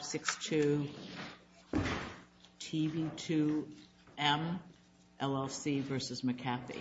6-2, TB2M, LLC versus McCaffey.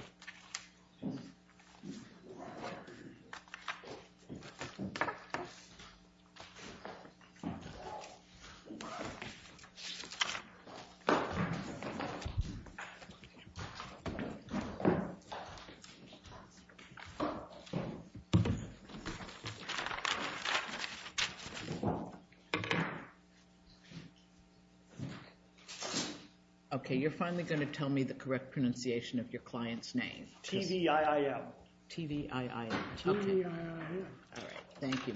Okay, you're finally going to tell me the correct pronunciation of your client's name. T-V-I-I-M. T-V-I-I-M. Okay. T-V-I-I-M. All right. Thank you.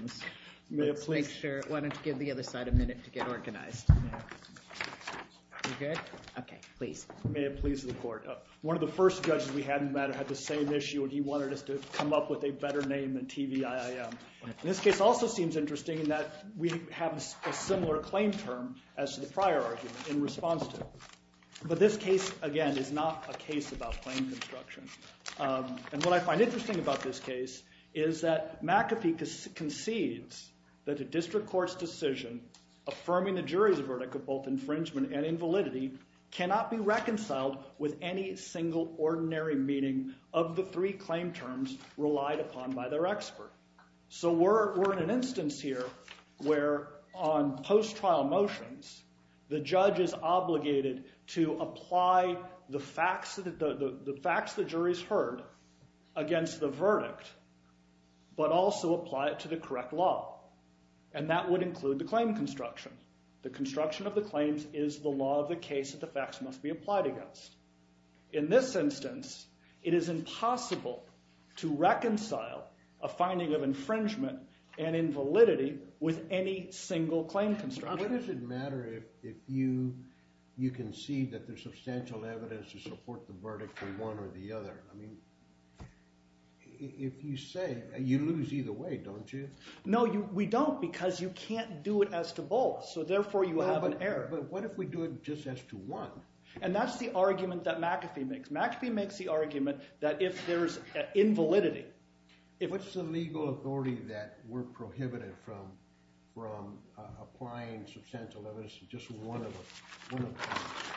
Let's make sure. Why don't you give the other side a minute to get organized. You good? Okay. Please. May it please the court. One of the first judges we had in the matter had the same issue, and he wanted us to come up with a better name than T-V-I-I-M. And this case also seems interesting in that we have a similar claim term as to the prior argument in response to it. But this case, again, is not a case about claim construction. And what I find interesting about this case is that McCaffey concedes that a district court's decision affirming the jury's verdict of both infringement and invalidity cannot be reconciled with any single ordinary meeting of the three claim terms relied upon by their expert. So we're in an instance here where on post-trial motions, the judge is obligated to apply the facts the jury's heard against the verdict, but also apply it to the correct law. And that would include the claim construction. The construction of the claims is the law of the case that the facts must be applied against. In this instance, it is impossible to reconcile a finding of infringement and invalidity with any single claim construction. What does it matter if you concede that there's substantial evidence to support the verdict for one or the other? I mean, if you say, you lose either way, don't you? No, we don't, because you can't do it as to both. So therefore, you have an error. But what if we do it just as to one? And that's the argument that McAfee makes. McAfee makes the argument that if there's an invalidity... What's the legal authority that we're prohibited from applying substantial evidence to just one of them?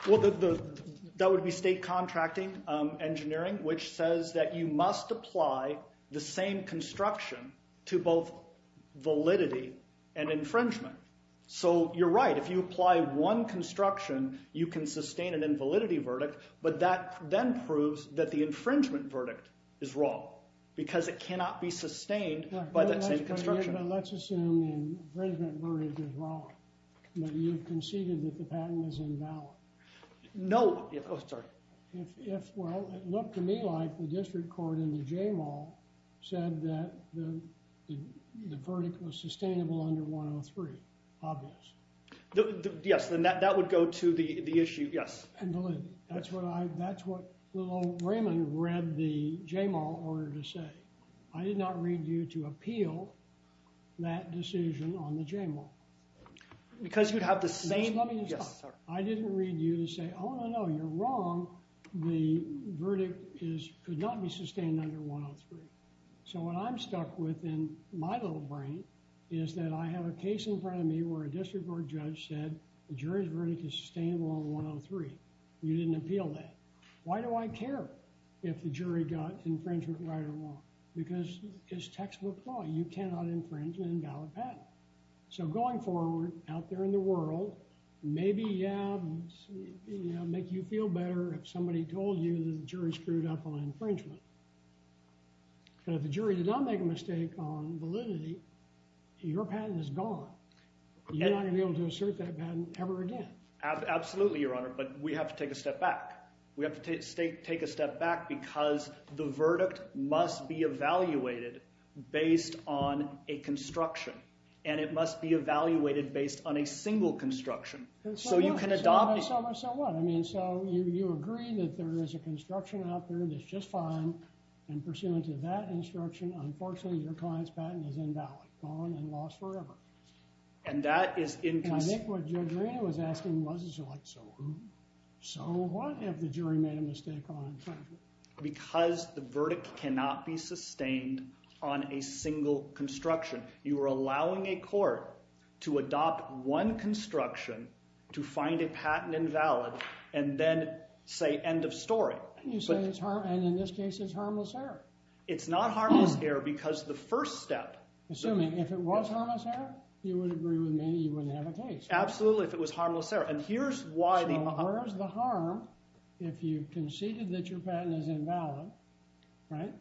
Well, that would be state contracting engineering, which says that you must apply the same construction to both validity and infringement. So you're right. If you apply one construction, you can sustain an invalidity verdict. But that then proves that the infringement verdict is wrong, because it cannot be sustained by that same construction. But let's assume the infringement verdict is wrong, that you've conceded that the patent is invalid. No. Oh, sorry. Well, it looked to me like the district court in the J-Mall said that the verdict was sustainable under 103. Obvious. Yes. Then that would go to the issue. Yes. And validity. That's what Raymond read the J-Mall order to say. I did not read you to appeal that decision on the J-Mall. Because you'd have the same... Let me just... Yes, sir. I didn't read you to say, oh, no, no, you're wrong. The verdict could not be sustained under 103. So what I'm stuck with in my little brain is that I have a case in front of me where a district court judge said the jury's verdict is sustainable under 103. You didn't appeal that. Why do I care if the jury got infringement right or wrong? Because it's textbook law. You cannot infringe an invalid patent. So going forward, out there in the world, maybe, yeah, make you feel better if somebody told you the jury screwed up on infringement. And if the jury did not make a mistake on validity, your patent is gone. You're not going to be able to assert that patent ever again. Absolutely, Your Honor. But we have to take a step back. We have to take a step back because the verdict must be evaluated based on a construction. And it must be evaluated based on a single construction. So you can adopt... So what? So what? If there is a construction out there that's just fine, and pursuant to that instruction, unfortunately, your client's patent is invalid, gone, and lost forever. And that is inconsistent. And I think what Judge Arena was asking was, like, so who? So what if the jury made a mistake on infringement? Because the verdict cannot be sustained on a single construction. You are allowing a court to adopt one construction to find a patent invalid, and then say, end of story. You say it's harmless, and in this case, it's harmless error. It's not harmless error because the first step... Assuming if it was harmless error, you would agree with me, you wouldn't have a case. Absolutely, if it was harmless error. And here's why the... So where's the harm if you conceded that your patent is invalid, right?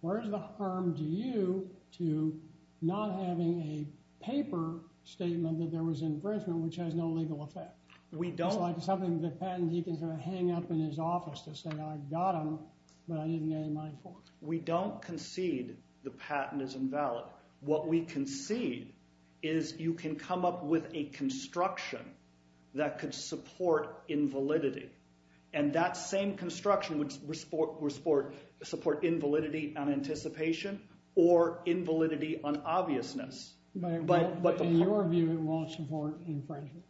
Where's the harm to you to not having a paper statement that there was infringement, which has no legal effect? We don't... It's like something the patent deacon's going to hang up in his office to say, I got them, but I didn't get any money for them. We don't concede the patent is invalid. What we concede is you can come up with a construction that could support invalidity. And that same construction would support invalidity on anticipation or invalidity on obviousness. But in your view, it won't support infringement.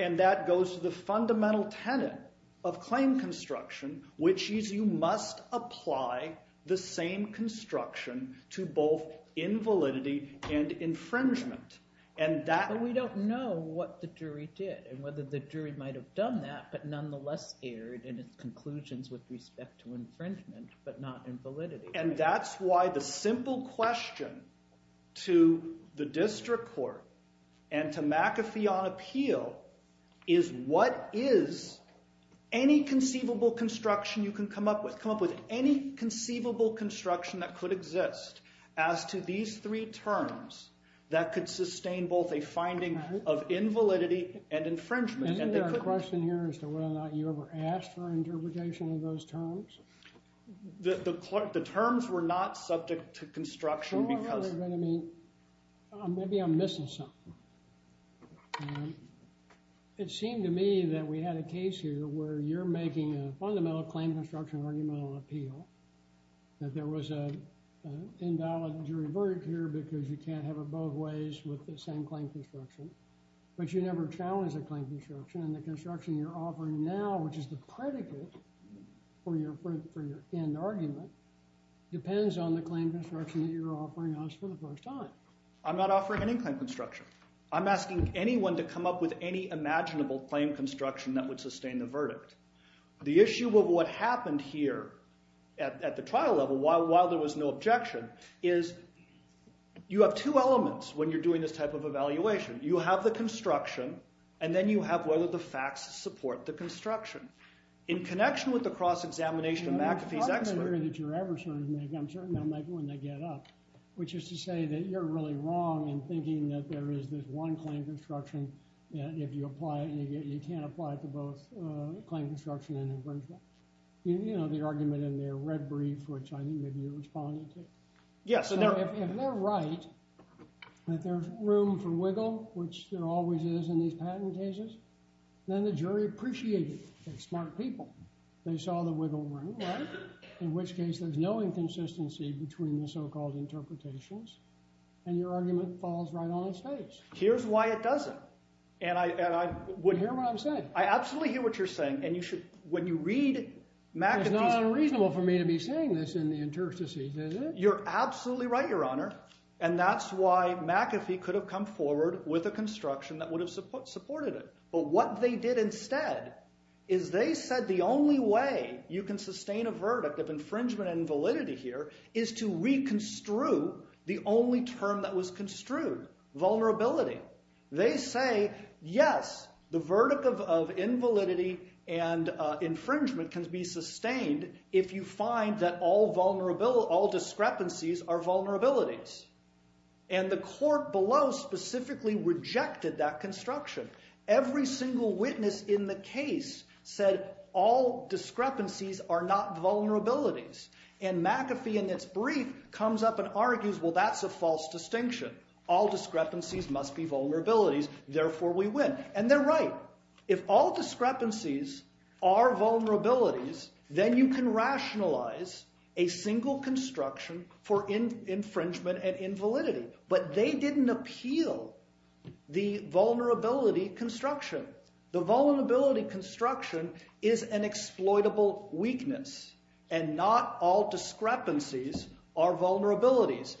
And that goes to the fundamental tenet of claim construction, which is you must apply the same construction to both invalidity and infringement. And that... But we don't know what the jury did and whether the jury might have done that, but nonetheless erred in its conclusions with respect to infringement, but not invalidity. And that's why the simple question to the district court and to McAfee on appeal is, what is any conceivable construction you can come up with? Come up with any conceivable construction that could exist as to these three terms that could sustain both a finding of invalidity and infringement. Isn't there a question here as to whether or not you ever asked for interpretation of those terms? The terms were not subject to construction because... You know what I mean? Maybe I'm missing something. It seemed to me that we had a case here where you're making a fundamental claim construction argument on appeal. That there was an invalid jury verdict here because you can't have it both ways with the same claim construction. But you never challenged the claim construction and the construction you're offering now, which is the predicate for your end argument, depends on the claim construction that you're offering us for the first time. I'm not offering any claim construction. I'm asking anyone to come up with any imaginable claim construction that would sustain the verdict. The issue of what happened here at the trial level, while there was no objection, is you have two elements when you're doing this type of evaluation. You have the construction, and then you have whether the facts support the construction. In connection with the cross-examination of McAfee's expert... The argument here that you're making, I'm certain they'll make when they get up, which is to say that you're really wrong in thinking that there is this one claim construction, and if you apply it, you can't apply it to both claim construction and infringement. You know, the argument in their red brief, which I think maybe you're responding to. Yes. If they're right that there's room for wiggle, which there always is in these patent cases, then the jury appreciated it. They're smart people. They saw the wiggle room, right? In which case, there's no inconsistency between the so-called interpretations, and your argument falls right on its face. Here's why it doesn't, and I would... You hear what I'm saying. I absolutely hear what you're saying, and you should, when you read McAfee's... You're absolutely right, Your Honor, and that's why McAfee could have come forward with a construction that would have supported it. But what they did instead is they said the only way you can sustain a verdict of infringement and invalidity here is to reconstrue the only term that was construed, vulnerability. They say, yes, the verdict of invalidity and infringement can be sustained if you find that all discrepancies are vulnerabilities, and the court below specifically rejected that construction. Every single witness in the case said all discrepancies are not vulnerabilities, and McAfee in its brief comes up and argues, well, that's a false distinction. All discrepancies must be vulnerabilities. Therefore, we win, and they're right. If all discrepancies are vulnerabilities, then you can rationalize a single construction for infringement and invalidity, but they didn't appeal the vulnerability construction. The vulnerability construction is an exploitable weakness, and not all discrepancies are vulnerabilities.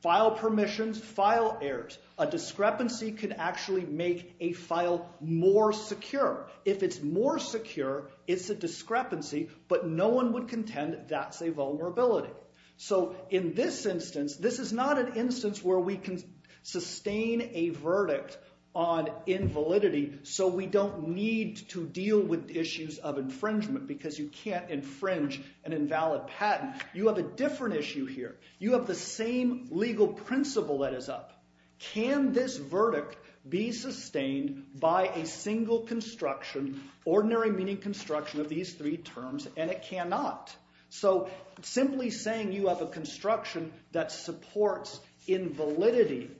File permissions, file errors. A discrepancy could actually make a file more secure. If it's more secure, it's a discrepancy, but no one would contend that's a vulnerability. So in this instance, this is not an instance where we can sustain a verdict on invalidity so we don't need to deal with issues of infringement because you can't infringe an invalid patent. You have a different issue here. You have the same legal principle that is up. Can this verdict be sustained by a single construction, ordinary meaning construction of these three terms, and it cannot. So simply saying you have a construction that supports invalidity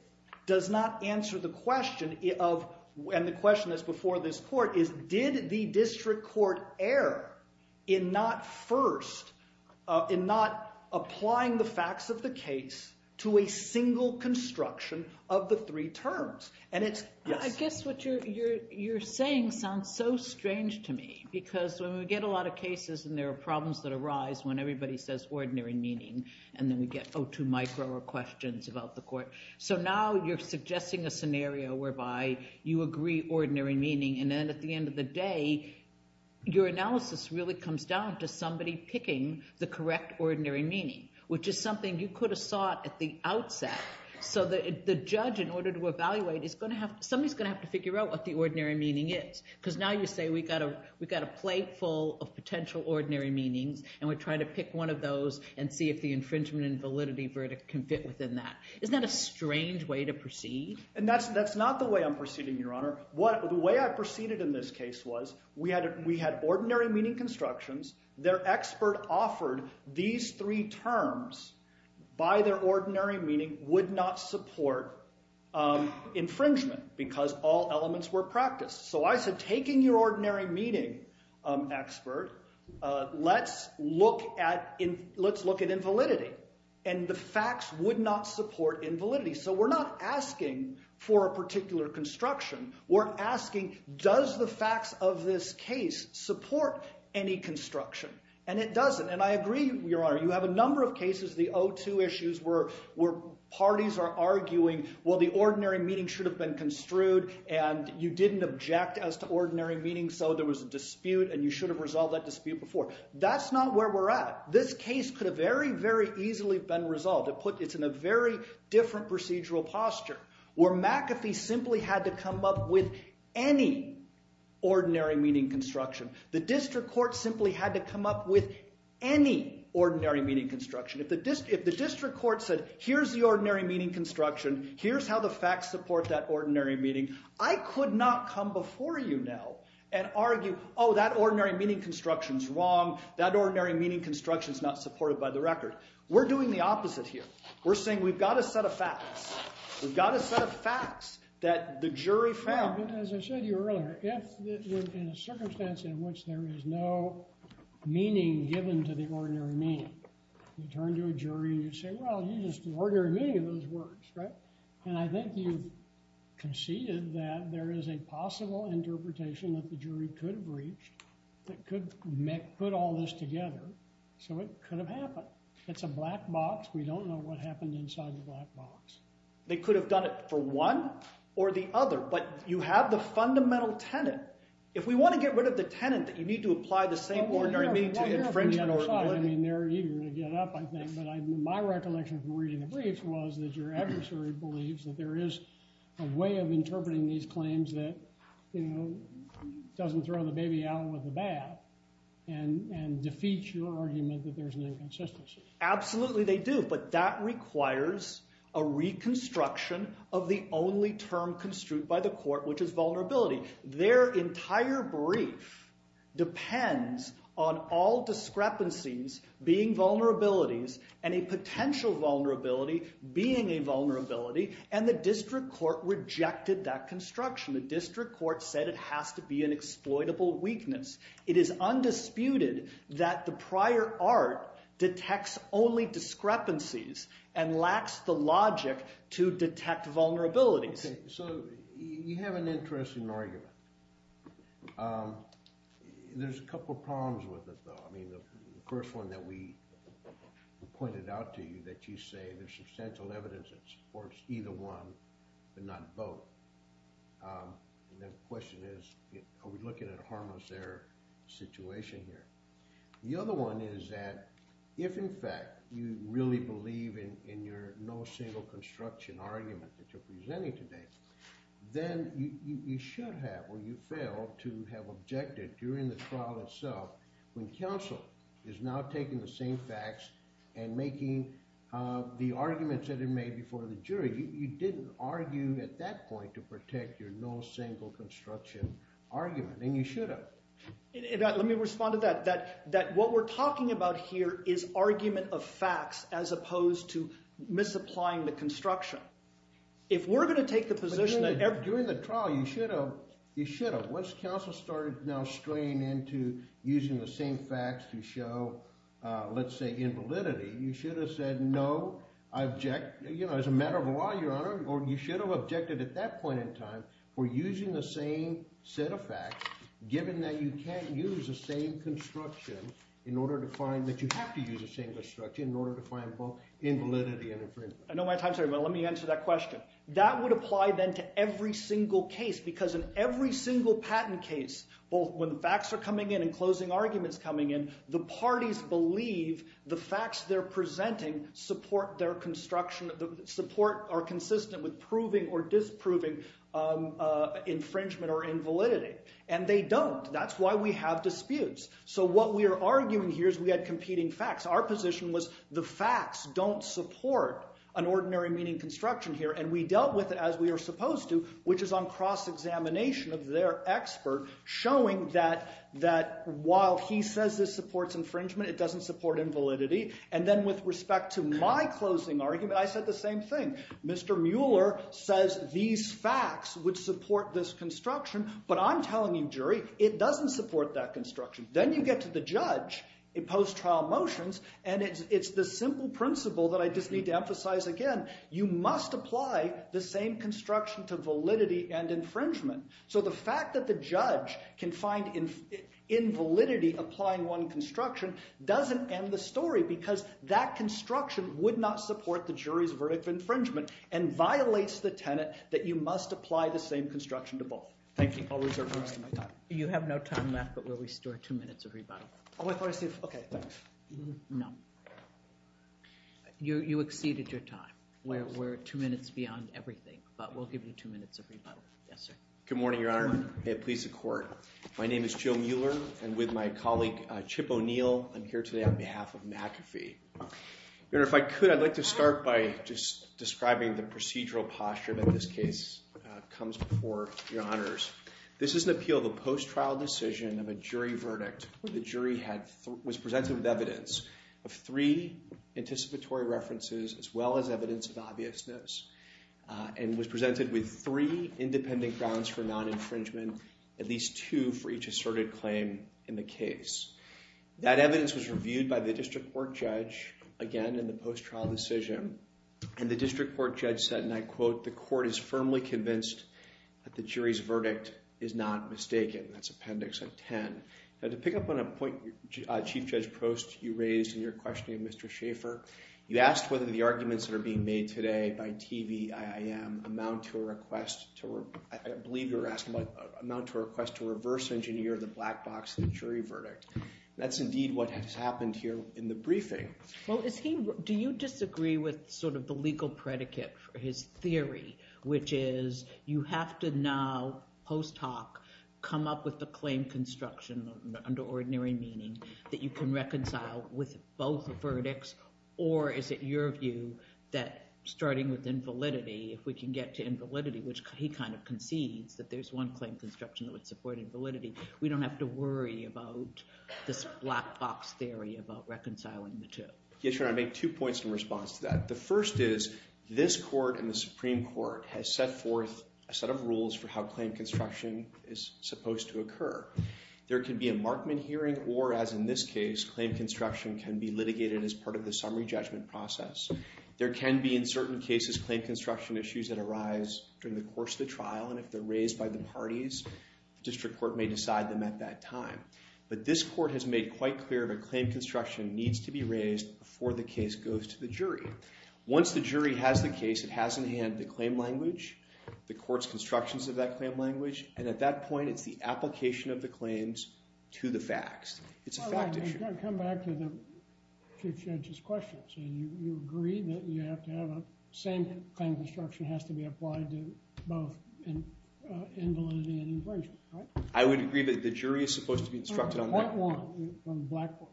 does not answer the question of, and the question that's before this court is, did the district court err in not first, in not applying the facts of the case to a single construction of the three terms? I guess what you're saying sounds so strange to me because when we get a lot of cases and there are problems that arise when everybody says ordinary meaning and then we get O2 micro or questions about the court. So now you're suggesting a scenario whereby you agree ordinary meaning and then at the end of the day your analysis really comes down to somebody picking the correct ordinary meaning, which is something you could have sought at the outset. So the judge, in order to evaluate, is going to have to figure out what the ordinary meaning is because now you say we've got a plate full of potential ordinary meanings and we're trying to pick one of those and see if the infringement and validity verdict can fit within that. Isn't that a strange way to proceed? That's not the way I'm proceeding, Your Honor. The way I proceeded in this case was we had ordinary meaning constructions. Their expert offered these three terms by their ordinary meaning would not support infringement because all elements were practiced. So I said taking your ordinary meaning expert, let's look at invalidity, and the facts would not support invalidity. So we're not asking for a particular construction. We're asking does the facts of this case support any construction? And it doesn't. And I agree, Your Honor. You have a number of cases, the O2 issues, where parties are arguing, well, the ordinary meaning should have been construed and you didn't object as to ordinary meaning so there was a dispute and you should have resolved that dispute before. That's not where we're at. This case could have very, very easily been resolved. It's in a very different procedural posture where McAfee simply had to come up with any ordinary meaning construction. The district court simply had to come up with any ordinary meaning construction. If the district court said here's the ordinary meaning construction, here's how the facts support that ordinary meaning, I could not come before you now and argue, oh, that ordinary meaning construction is wrong, that ordinary meaning construction is not supported by the record. We're doing the opposite here. We're saying we've got a set of facts. We've got a set of facts that the jury found. As I said to you earlier, if in a circumstance in which there is no meaning given to the ordinary meaning, you turn to a jury and you say, well, you used the ordinary meaning of those words, right? And I think you've conceded that there is a possible interpretation that the jury could have reached that could put all this together. So it could have happened. It's a black box. We don't know what happened inside the black box. They could have done it for one or the other. But you have the fundamental tenet. If we want to get rid of the tenet that you need to apply the same ordinary meaning to infringement or – I mean, they're eager to get up, I think. But my recollection from reading the briefs was that your adversary believes that there is a way of interpreting these claims that doesn't throw the baby out with the bath and defeats your argument that there's an inconsistency. Absolutely they do. But that requires a reconstruction of the only term construed by the court, which is vulnerability. Their entire brief depends on all discrepancies being vulnerabilities and a potential vulnerability being a vulnerability. And the district court rejected that construction. The district court said it has to be an exploitable weakness. It is undisputed that the prior art detects only discrepancies and lacks the logic to detect vulnerabilities. So you have an interesting argument. There's a couple problems with it, though. I mean, the first one that we pointed out to you, that you say there's substantial evidence that supports either one but not both. And the question is, are we looking at a harmless error situation here? The other one is that if, in fact, you really believe in your no single construction argument that you're presenting today, then you should have or you failed to have objected during the trial itself when counsel is now taking the same facts and making the arguments that are made before the jury. You didn't argue at that point to protect your no single construction argument. And you should have. Let me respond to that. That what we're talking about here is argument of facts as opposed to misapplying the construction. If we're going to take the position that every- During the trial, you should have. Once counsel started now straying into using the same facts to show, let's say, invalidity, you should have said no. I object. As a matter of law, Your Honor, you should have objected at that point in time for using the same set of facts, given that you can't use the same construction in order to find- that you have to use the same construction in order to find both invalidity and infringement. I know my time's running, but let me answer that question. That would apply then to every single case because in every single patent case, both when the facts are coming in and closing arguments coming in, the parties believe the facts they're presenting support their construction- support or consistent with proving or disproving infringement or invalidity. And they don't. That's why we have disputes. So what we are arguing here is we had competing facts. Our position was the facts don't support an ordinary-meaning construction here, and we dealt with it as we are supposed to, which is on cross-examination of their expert, showing that while he says this supports infringement, it doesn't support invalidity. And then with respect to my closing argument, I said the same thing. Mr. Mueller says these facts would support this construction, but I'm telling you, jury, it doesn't support that construction. Then you get to the judge in post-trial motions, and it's the simple principle that I just need to emphasize again. You must apply the same construction to validity and infringement. So the fact that the judge can find invalidity applying one construction doesn't end the story because that construction would not support the jury's verdict of infringement and violates the tenet that you must apply the same construction to both. Thank you. I'll reserve the rest of my time. You have no time left, but we'll restore two minutes of rebuttal. Oh, I thought I said, okay, thanks. No. You exceeded your time. We're two minutes beyond everything, but we'll give you two minutes of rebuttal. Yes, sir. Good morning, Your Honor. May it please the Court. My name is Joe Mueller, and with my colleague Chip O'Neill, I'm here today on behalf of McAfee. Your Honor, if I could, I'd like to start by just describing the procedural posture that in this case comes before Your Honors. This is an appeal of a post-trial decision of a jury verdict where the jury was presented with evidence of three anticipatory references as well as evidence of obviousness and was presented with three independent grounds for non-infringement, at least two for each asserted claim in the case. That evidence was reviewed by the district court judge again in the post-trial decision, and the district court judge said, and I quote, the court is firmly convinced that the jury's verdict is not mistaken. That's Appendix 10. Now, to pick up on a point Chief Judge Prost, you raised in your questioning of Mr. Schaefer, you asked whether the arguments that are being made today by TVIIM amount to a request to, I believe you were asking about, amount to a request to reverse engineer the black box of the jury verdict. That's indeed what has happened here in the briefing. Well, do you disagree with sort of the legal predicate for his theory, which is you have to now post hoc come up with the claim construction under ordinary meaning that you can reconcile with both the verdicts, or is it your view that starting with invalidity, if we can get to invalidity, which he kind of concedes, that there's one claim construction that would support invalidity, we don't have to worry about this black box theory about reconciling the two? Yes, Your Honor, I make two points in response to that. The first is this court and the Supreme Court has set forth a set of rules for how claim construction is supposed to occur. There can be a Markman hearing or, as in this case, claim construction can be litigated as part of the summary judgment process. There can be, in certain cases, claim construction issues that arise during the course of the trial, and if they're raised by the parties, the district court may decide them at that time. But this court has made quite clear that claim construction needs to be raised before the case goes to the jury. Once the jury has the case, it has in hand the claim language, the court's constructions of that claim language, and at that point it's the application of the claims to the facts. It's a fact issue. So you agree that you have to have a same claim construction has to be applied to both invalidity and infringement, right? I would agree that the jury is supposed to be instructed on that. Point one,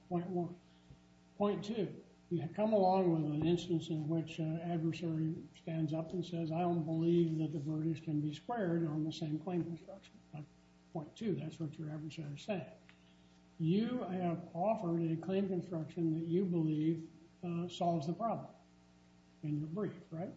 point one. Point two, you come along with an instance in which an adversary stands up and says, I don't believe that the verdicts can be squared on the same claim construction. Point two, that's what your adversary is saying. You have offered a claim construction that you believe solves the problem in your brief, right?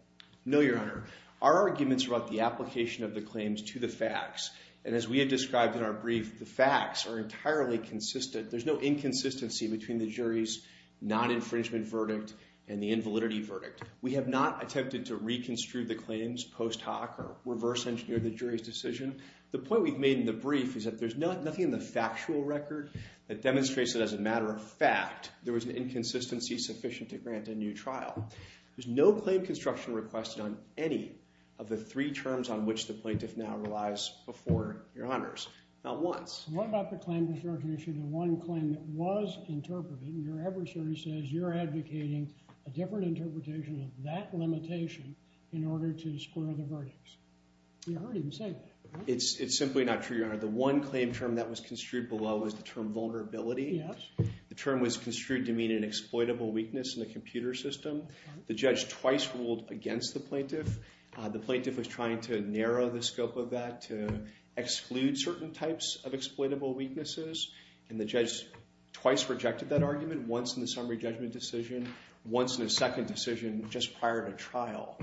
No, Your Honor. Our arguments are about the application of the claims to the facts, and as we have described in our brief, the facts are entirely consistent. There's no inconsistency between the jury's non-infringement verdict and the invalidity verdict. We have not attempted to reconstruct the claims post hoc or reverse engineer the jury's decision. The point we've made in the brief is that there's nothing in the factual record that demonstrates that as a matter of fact, there was an inconsistency sufficient to grant a new trial. There's no claim construction requested on any of the three terms on which the plaintiff now relies before Your Honors. Not once. What about the claim construction issue, the one claim that was interpreted and your adversary says you're advocating a different interpretation of that limitation in order to square the verdicts? It's simply not true, Your Honor. The one claim term that was construed below was the term vulnerability. The term was construed to mean an exploitable weakness in the computer system. The judge twice ruled against the plaintiff. The plaintiff was trying to narrow the scope of that to exclude certain types of exploitable weaknesses, and the judge twice rejected that argument, once in the summary judgment decision, once in a second decision just prior to trial.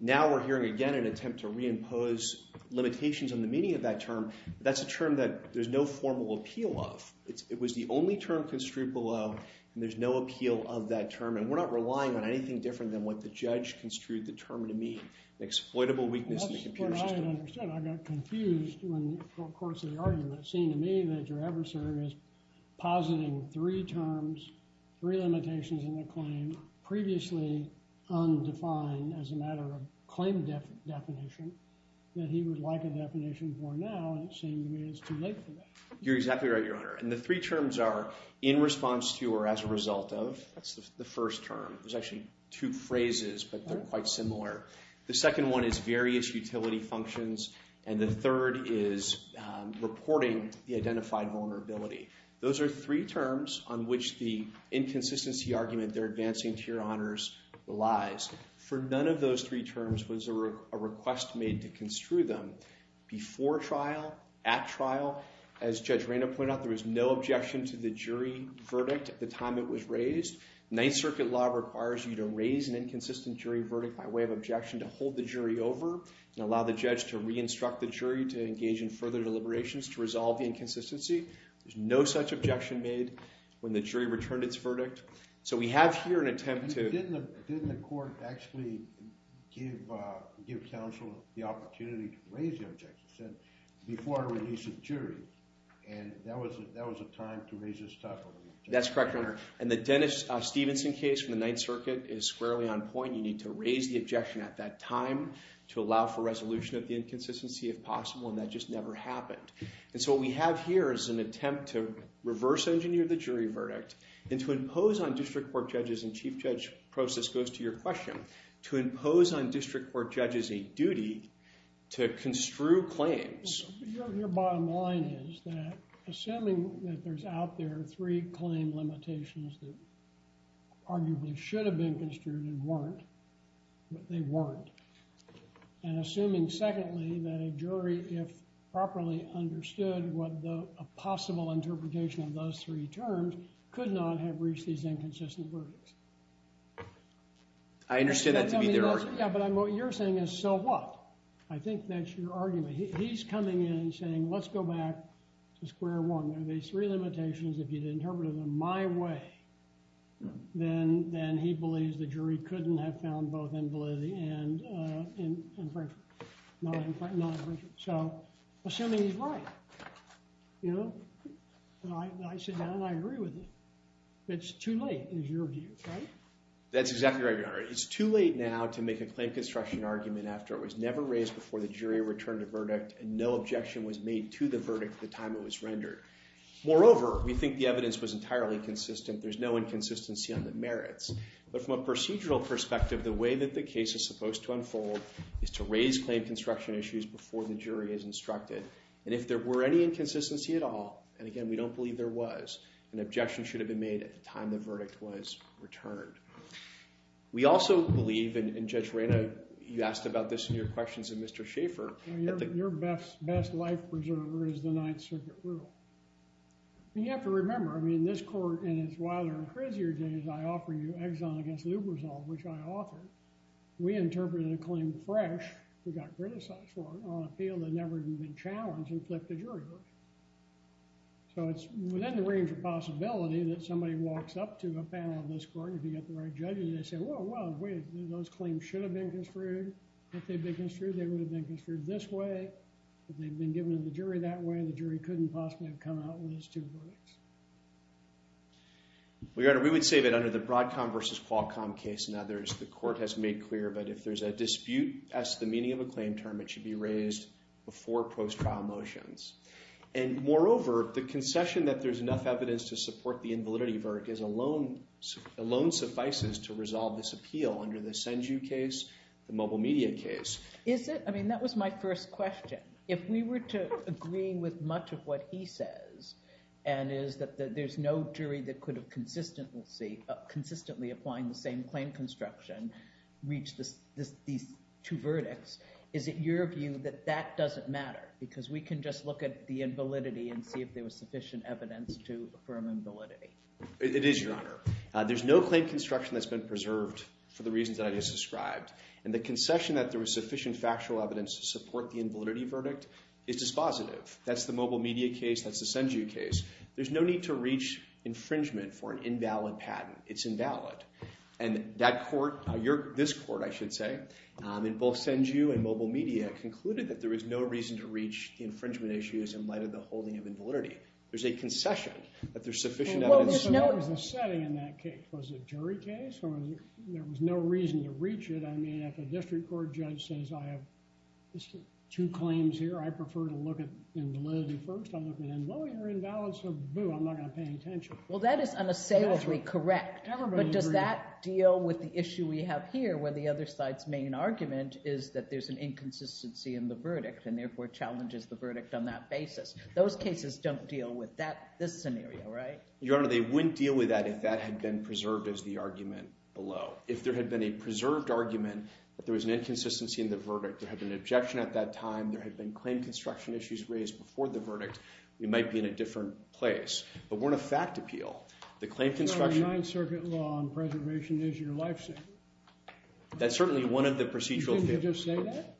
Now we're hearing again an attempt to reimpose limitations on the meaning of that term. That's a term that there's no formal appeal of. It was the only term construed below, and there's no appeal of that term, and we're not relying on anything different than what the judge construed the term to mean, an exploitable weakness in the computer system. That's what I had understood. I got confused in the course of the argument, seeing to me that your adversary was positing three terms, three limitations in the claim previously undefined as a matter of claim definition that he would like a definition for now, and it seemed to me it's too late for that. You're exactly right, Your Honor. And the three terms are in response to or as a result of. That's the first term. There's actually two phrases, but they're quite similar. The second one is various utility functions, and the third is reporting the identified vulnerability. Those are three terms on which the inconsistency argument they're advancing to your honors relies. For none of those three terms was a request made to construe them. Before trial, at trial, as Judge Reyna pointed out, there was no objection to the jury verdict at the time it was raised. Ninth Circuit law requires you to raise an inconsistent jury verdict by way of objection to hold the jury over and allow the judge to re-instruct the jury to engage in further deliberations to resolve the inconsistency. There's no such objection made when the jury returned its verdict. So we have here an attempt to- Didn't the court actually give counsel the opportunity to raise the objection? It said, before I release the jury, and that was a time to raise this type of objection. That's correct, Your Honor. And the Dennis Stevenson case from the Ninth Circuit is squarely on point. You need to raise the objection at that time to allow for resolution of the inconsistency if possible, and that just never happened. And so what we have here is an attempt to reverse engineer the jury verdict and to impose on district court judges, and chief judge process goes to your question, to impose on district court judges a duty to construe claims. Your bottom line is that, assuming that there's out there three claim limitations that arguably should have been construed and weren't, but they weren't, and assuming, secondly, that a jury, if properly understood what a possible interpretation of those three terms, could not have reached these inconsistent verdicts. I understand that to be their argument. Yeah, but what you're saying is, so what? I think that's your argument. He's coming in and saying, let's go back to square one. There are these three limitations. If you'd interpreted them my way, then he believes the jury couldn't have found both invalidity and infringement. Not infringement. So, assuming he's right, you know, I sit down and I agree with it. It's too late, is your view, right? That's exactly right, Your Honor. It's too late now to make a claim construction argument after it was never raised before the jury returned a verdict and no objection was made to the verdict at the time it was rendered. Moreover, we think the evidence was entirely consistent. There's no inconsistency on the merits. But from a procedural perspective, the way that the case is supposed to unfold is to raise claim construction issues before the jury is instructed. And if there were any inconsistency at all, and again, we don't believe there was, an objection should have been made at the time the verdict was returned. We also believe, and Judge Reyna, you asked about this in your questions to Mr. Schaffer. Your best life preserver is the Ninth Circuit rule. And you have to remember, I mean, this court in its wilder and crazier days, I offer you Exon against Lubrizol, which I authored. We interpreted a claim fresh, we got criticized for it, on appeal that never even been challenged and flipped the jury verdict. So, it's within the range of possibility that somebody walks up to a panel of this court and if you get the right judges, they say, whoa, whoa, wait, those claims should have been construed. If they'd been construed, they would have been construed this way. If they'd been given to the jury that way, the jury couldn't possibly have come out with these two verdicts. We would say that under the Broadcom versus Qualcomm case and others, the court has made clear that if there's a dispute as to the meaning of a claim term, it should be raised before post-trial motions. And moreover, the concession that there's enough evidence to support the invalidity verdict alone suffices to resolve this appeal under the SendU case, the mobile media case. Is it? I mean, that was my first question. If we were to agree with much of what he says, and is that there's no jury that could have consistently applying the same claim construction, reach these two verdicts, is it your view that that doesn't matter? Because we can just look at the invalidity and see if there was sufficient evidence to affirm invalidity. It is, Your Honor. There's no claim construction that's been preserved for the reasons that I just described. And the concession that there was sufficient factual evidence to support the invalidity verdict is dispositive. That's the mobile media case. That's the SendU case. There's no need to reach infringement for an invalid patent. It's invalid. And that court, this court, I should say, in both SendU and mobile media, concluded that there was no reason to reach the infringement issues in light of the holding of invalidity. There's a concession that there's sufficient evidence. What was the setting in that case? Was it a jury case or there was no reason to reach it? I mean, if a district court judge says I have two claims here, I prefer to look at invalidity first. I look at invalidity or invalid, so boo, I'm not going to pay attention. Well, that is unassailably correct. But does that deal with the issue we have here where the other side's main argument is that there's an inconsistency in the verdict and therefore challenges the verdict on that basis? Those cases don't deal with this scenario, right? Your Honor, they wouldn't deal with that if that had been preserved as the argument below. If there had been a preserved argument that there was an inconsistency in the verdict, there had been an objection at that time, there had been claim construction issues raised before the verdict, we might be in a different place. But we're in a fact appeal. The claim construction— The Ninth Circuit law on preservation is your life saver. That's certainly one of the procedural failings. Didn't they just say that?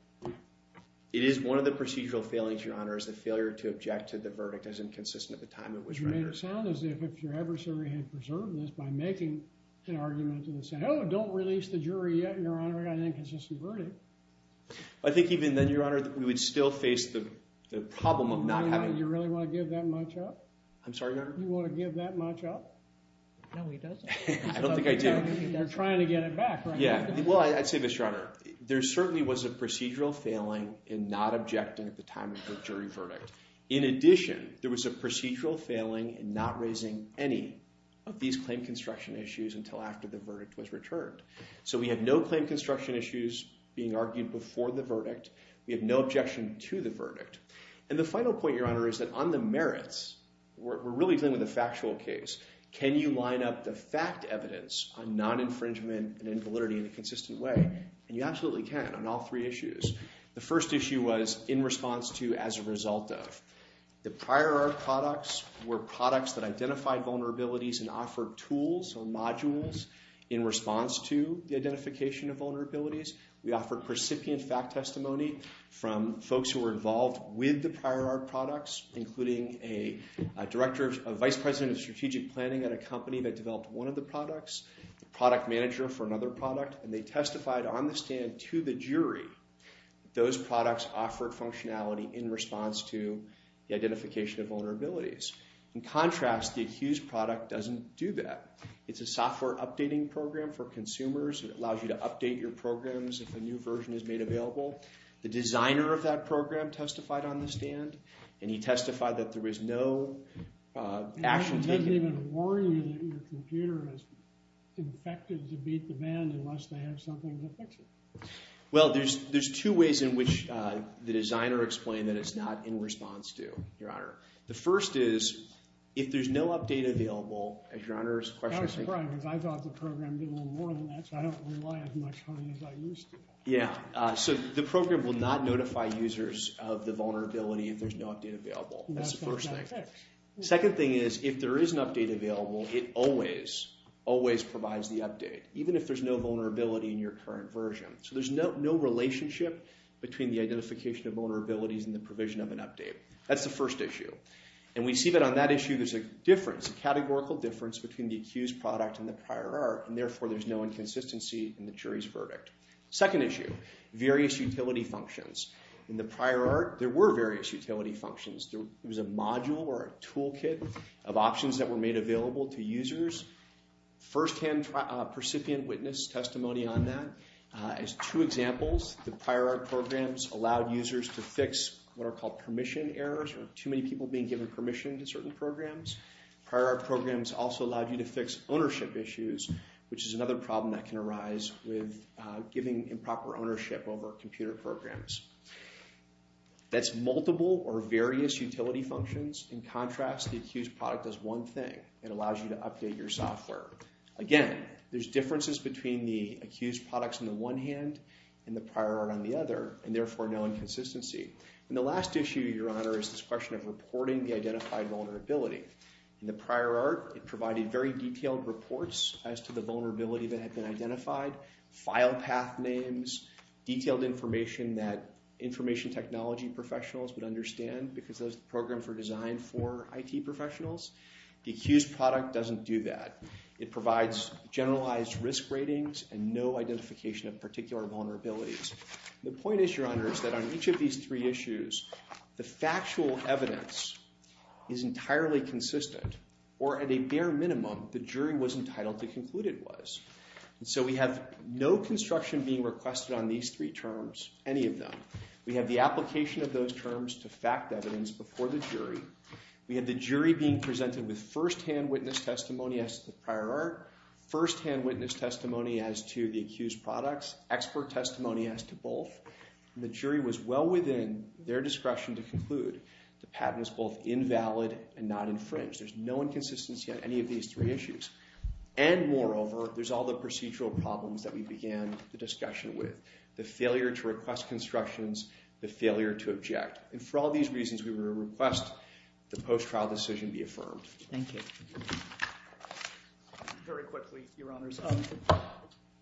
It is one of the procedural failings, Your Honor, is the failure to object to the verdict as inconsistent at the time it was rendered. It sounds as if your adversary had preserved this by making an argument and saying, oh, don't release the jury yet, Your Honor, I got an inconsistent verdict. I think even then, Your Honor, we would still face the problem of not having— You really want to give that much up? I'm sorry, Your Honor? You want to give that much up? No, he doesn't. I don't think I do. They're trying to get it back, right? Yeah. Well, I'd say this, Your Honor. There certainly was a procedural failing in not objecting at the time of the jury verdict. In addition, there was a procedural failing in not raising any of these claim construction issues until after the verdict was returned. So we have no claim construction issues being argued before the verdict. We have no objection to the verdict. And the final point, Your Honor, is that on the merits, we're really dealing with a factual case. Can you line up the fact evidence on non-infringement and invalidity in a consistent way? And you absolutely can on all three issues. The first issue was in response to as a result of. The prior art products were products that identified vulnerabilities and offered tools or modules in response to the identification of vulnerabilities. We offered recipient fact testimony from folks who were involved with the prior art products, including a director, a vice president of strategic planning at a company that developed one of the products, a product manager for another product, and they testified on the stand to the jury that those products offered functionality in response to the identification of vulnerabilities. In contrast, the accused product doesn't do that. It's a software updating program for consumers. It allows you to update your programs if a new version is made available. The designer of that program testified on the stand, and he testified that there was no action taken. It doesn't even warn you that your computer is infected to beat the band unless they have something to fix it. Well, there's two ways in which the designer explained that it's not in response to, Your Honor. The first is, if there's no update available, as Your Honor's question— I was surprised because I thought the program did a little more than that, so I don't rely as much on it as I used to. Yeah, so the program will not notify users of the vulnerability if there's no update available. That's the first thing. Second thing is, if there is an update available, it always, always provides the update, even if there's no vulnerability in your current version. So there's no relationship between the identification of vulnerabilities and the provision of an update. That's the first issue. And we see that on that issue there's a difference, a categorical difference, between the accused product and the prior art, and therefore there's no inconsistency in the jury's verdict. Second issue, various utility functions. In the prior art, there were various utility functions. There was a module or a toolkit of options that were made available to users. First-hand, percipient witness testimony on that is two examples. The prior art programs allowed users to fix what are called permission errors, or too many people being given permission to certain programs. Prior art programs also allowed you to fix ownership issues, which is another problem that can arise with giving improper ownership over computer programs. That's multiple or various utility functions. In contrast, the accused product does one thing. It allows you to update your software. Again, there's differences between the accused products on the one hand and the prior art on the other, and therefore no inconsistency. And the last issue, Your Honor, is this question of reporting the identified vulnerability. In the prior art, it provided very detailed reports as to the vulnerability that had been identified, file path names, detailed information that information technology professionals would understand because those programs were designed for IT professionals. The accused product doesn't do that. It provides generalized risk ratings and no identification of particular vulnerabilities. The point is, Your Honor, is that on each of these three issues, the factual evidence is entirely consistent, or at a bare minimum, the jury was entitled to conclude it was. So we have no construction being requested on these three terms, any of them. We have the application of those terms to fact evidence before the jury. We have the jury being presented with firsthand witness testimony as to the prior art, firsthand witness testimony as to the accused products, expert testimony as to both. The jury was well within their discretion to conclude the patent was both invalid and not infringed. There's no inconsistency on any of these three issues. And moreover, there's all the procedural problems that we began the discussion with, the failure to request constructions, the failure to object. And for all these reasons, we would request the post-trial decision be affirmed. Thank you. Very quickly, Your Honors,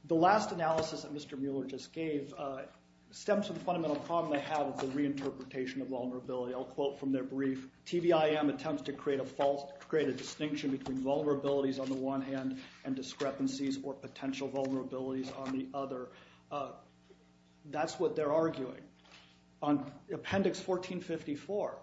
the last analysis that Mr. Mueller just gave stems from the fundamental problem they have with the reinterpretation of vulnerability. I'll quote from their brief. The TVIM attempts to create a distinction between vulnerabilities on the one hand and discrepancies or potential vulnerabilities on the other. That's what they're arguing. On Appendix 1454,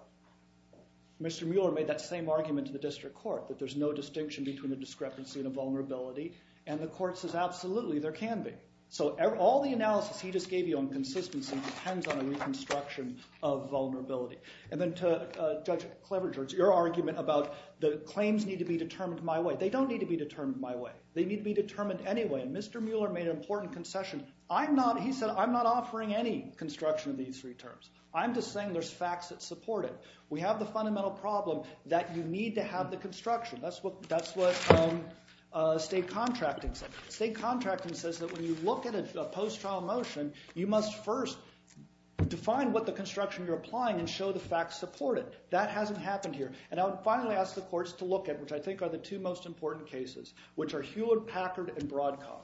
Mr. Mueller made that same argument to the district court, that there's no distinction between a discrepancy and a vulnerability. And the court says, absolutely, there can be. So all the analysis he just gave you on consistency depends on a reconstruction of vulnerability. And then to Judge Cleverjord, your argument about the claims need to be determined my way. They don't need to be determined my way. They need to be determined anyway. And Mr. Mueller made an important concession. He said, I'm not offering any construction of these three terms. I'm just saying there's facts that support it. We have the fundamental problem that you need to have the construction. That's what state contracting says. State contracting says that when you look at a post-trial motion, you must first define what the construction you're applying and show the facts support it. That hasn't happened here. And I would finally ask the courts to look at, which I think are the two most important cases, which are Hewlett-Packard and Broadcom.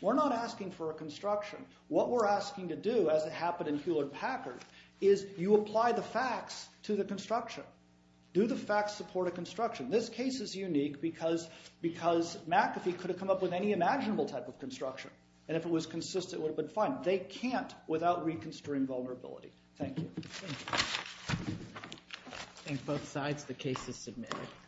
We're not asking for a construction. What we're asking to do, as it happened in Hewlett-Packard, is you apply the facts to the construction. Do the facts support a construction? This case is unique because McAfee could have come up with any imaginable type of construction. And if it was consistent, it would have been fine. They can't without reconstruing vulnerability. Thank you. Thank you. I think both sides, the case is submitted.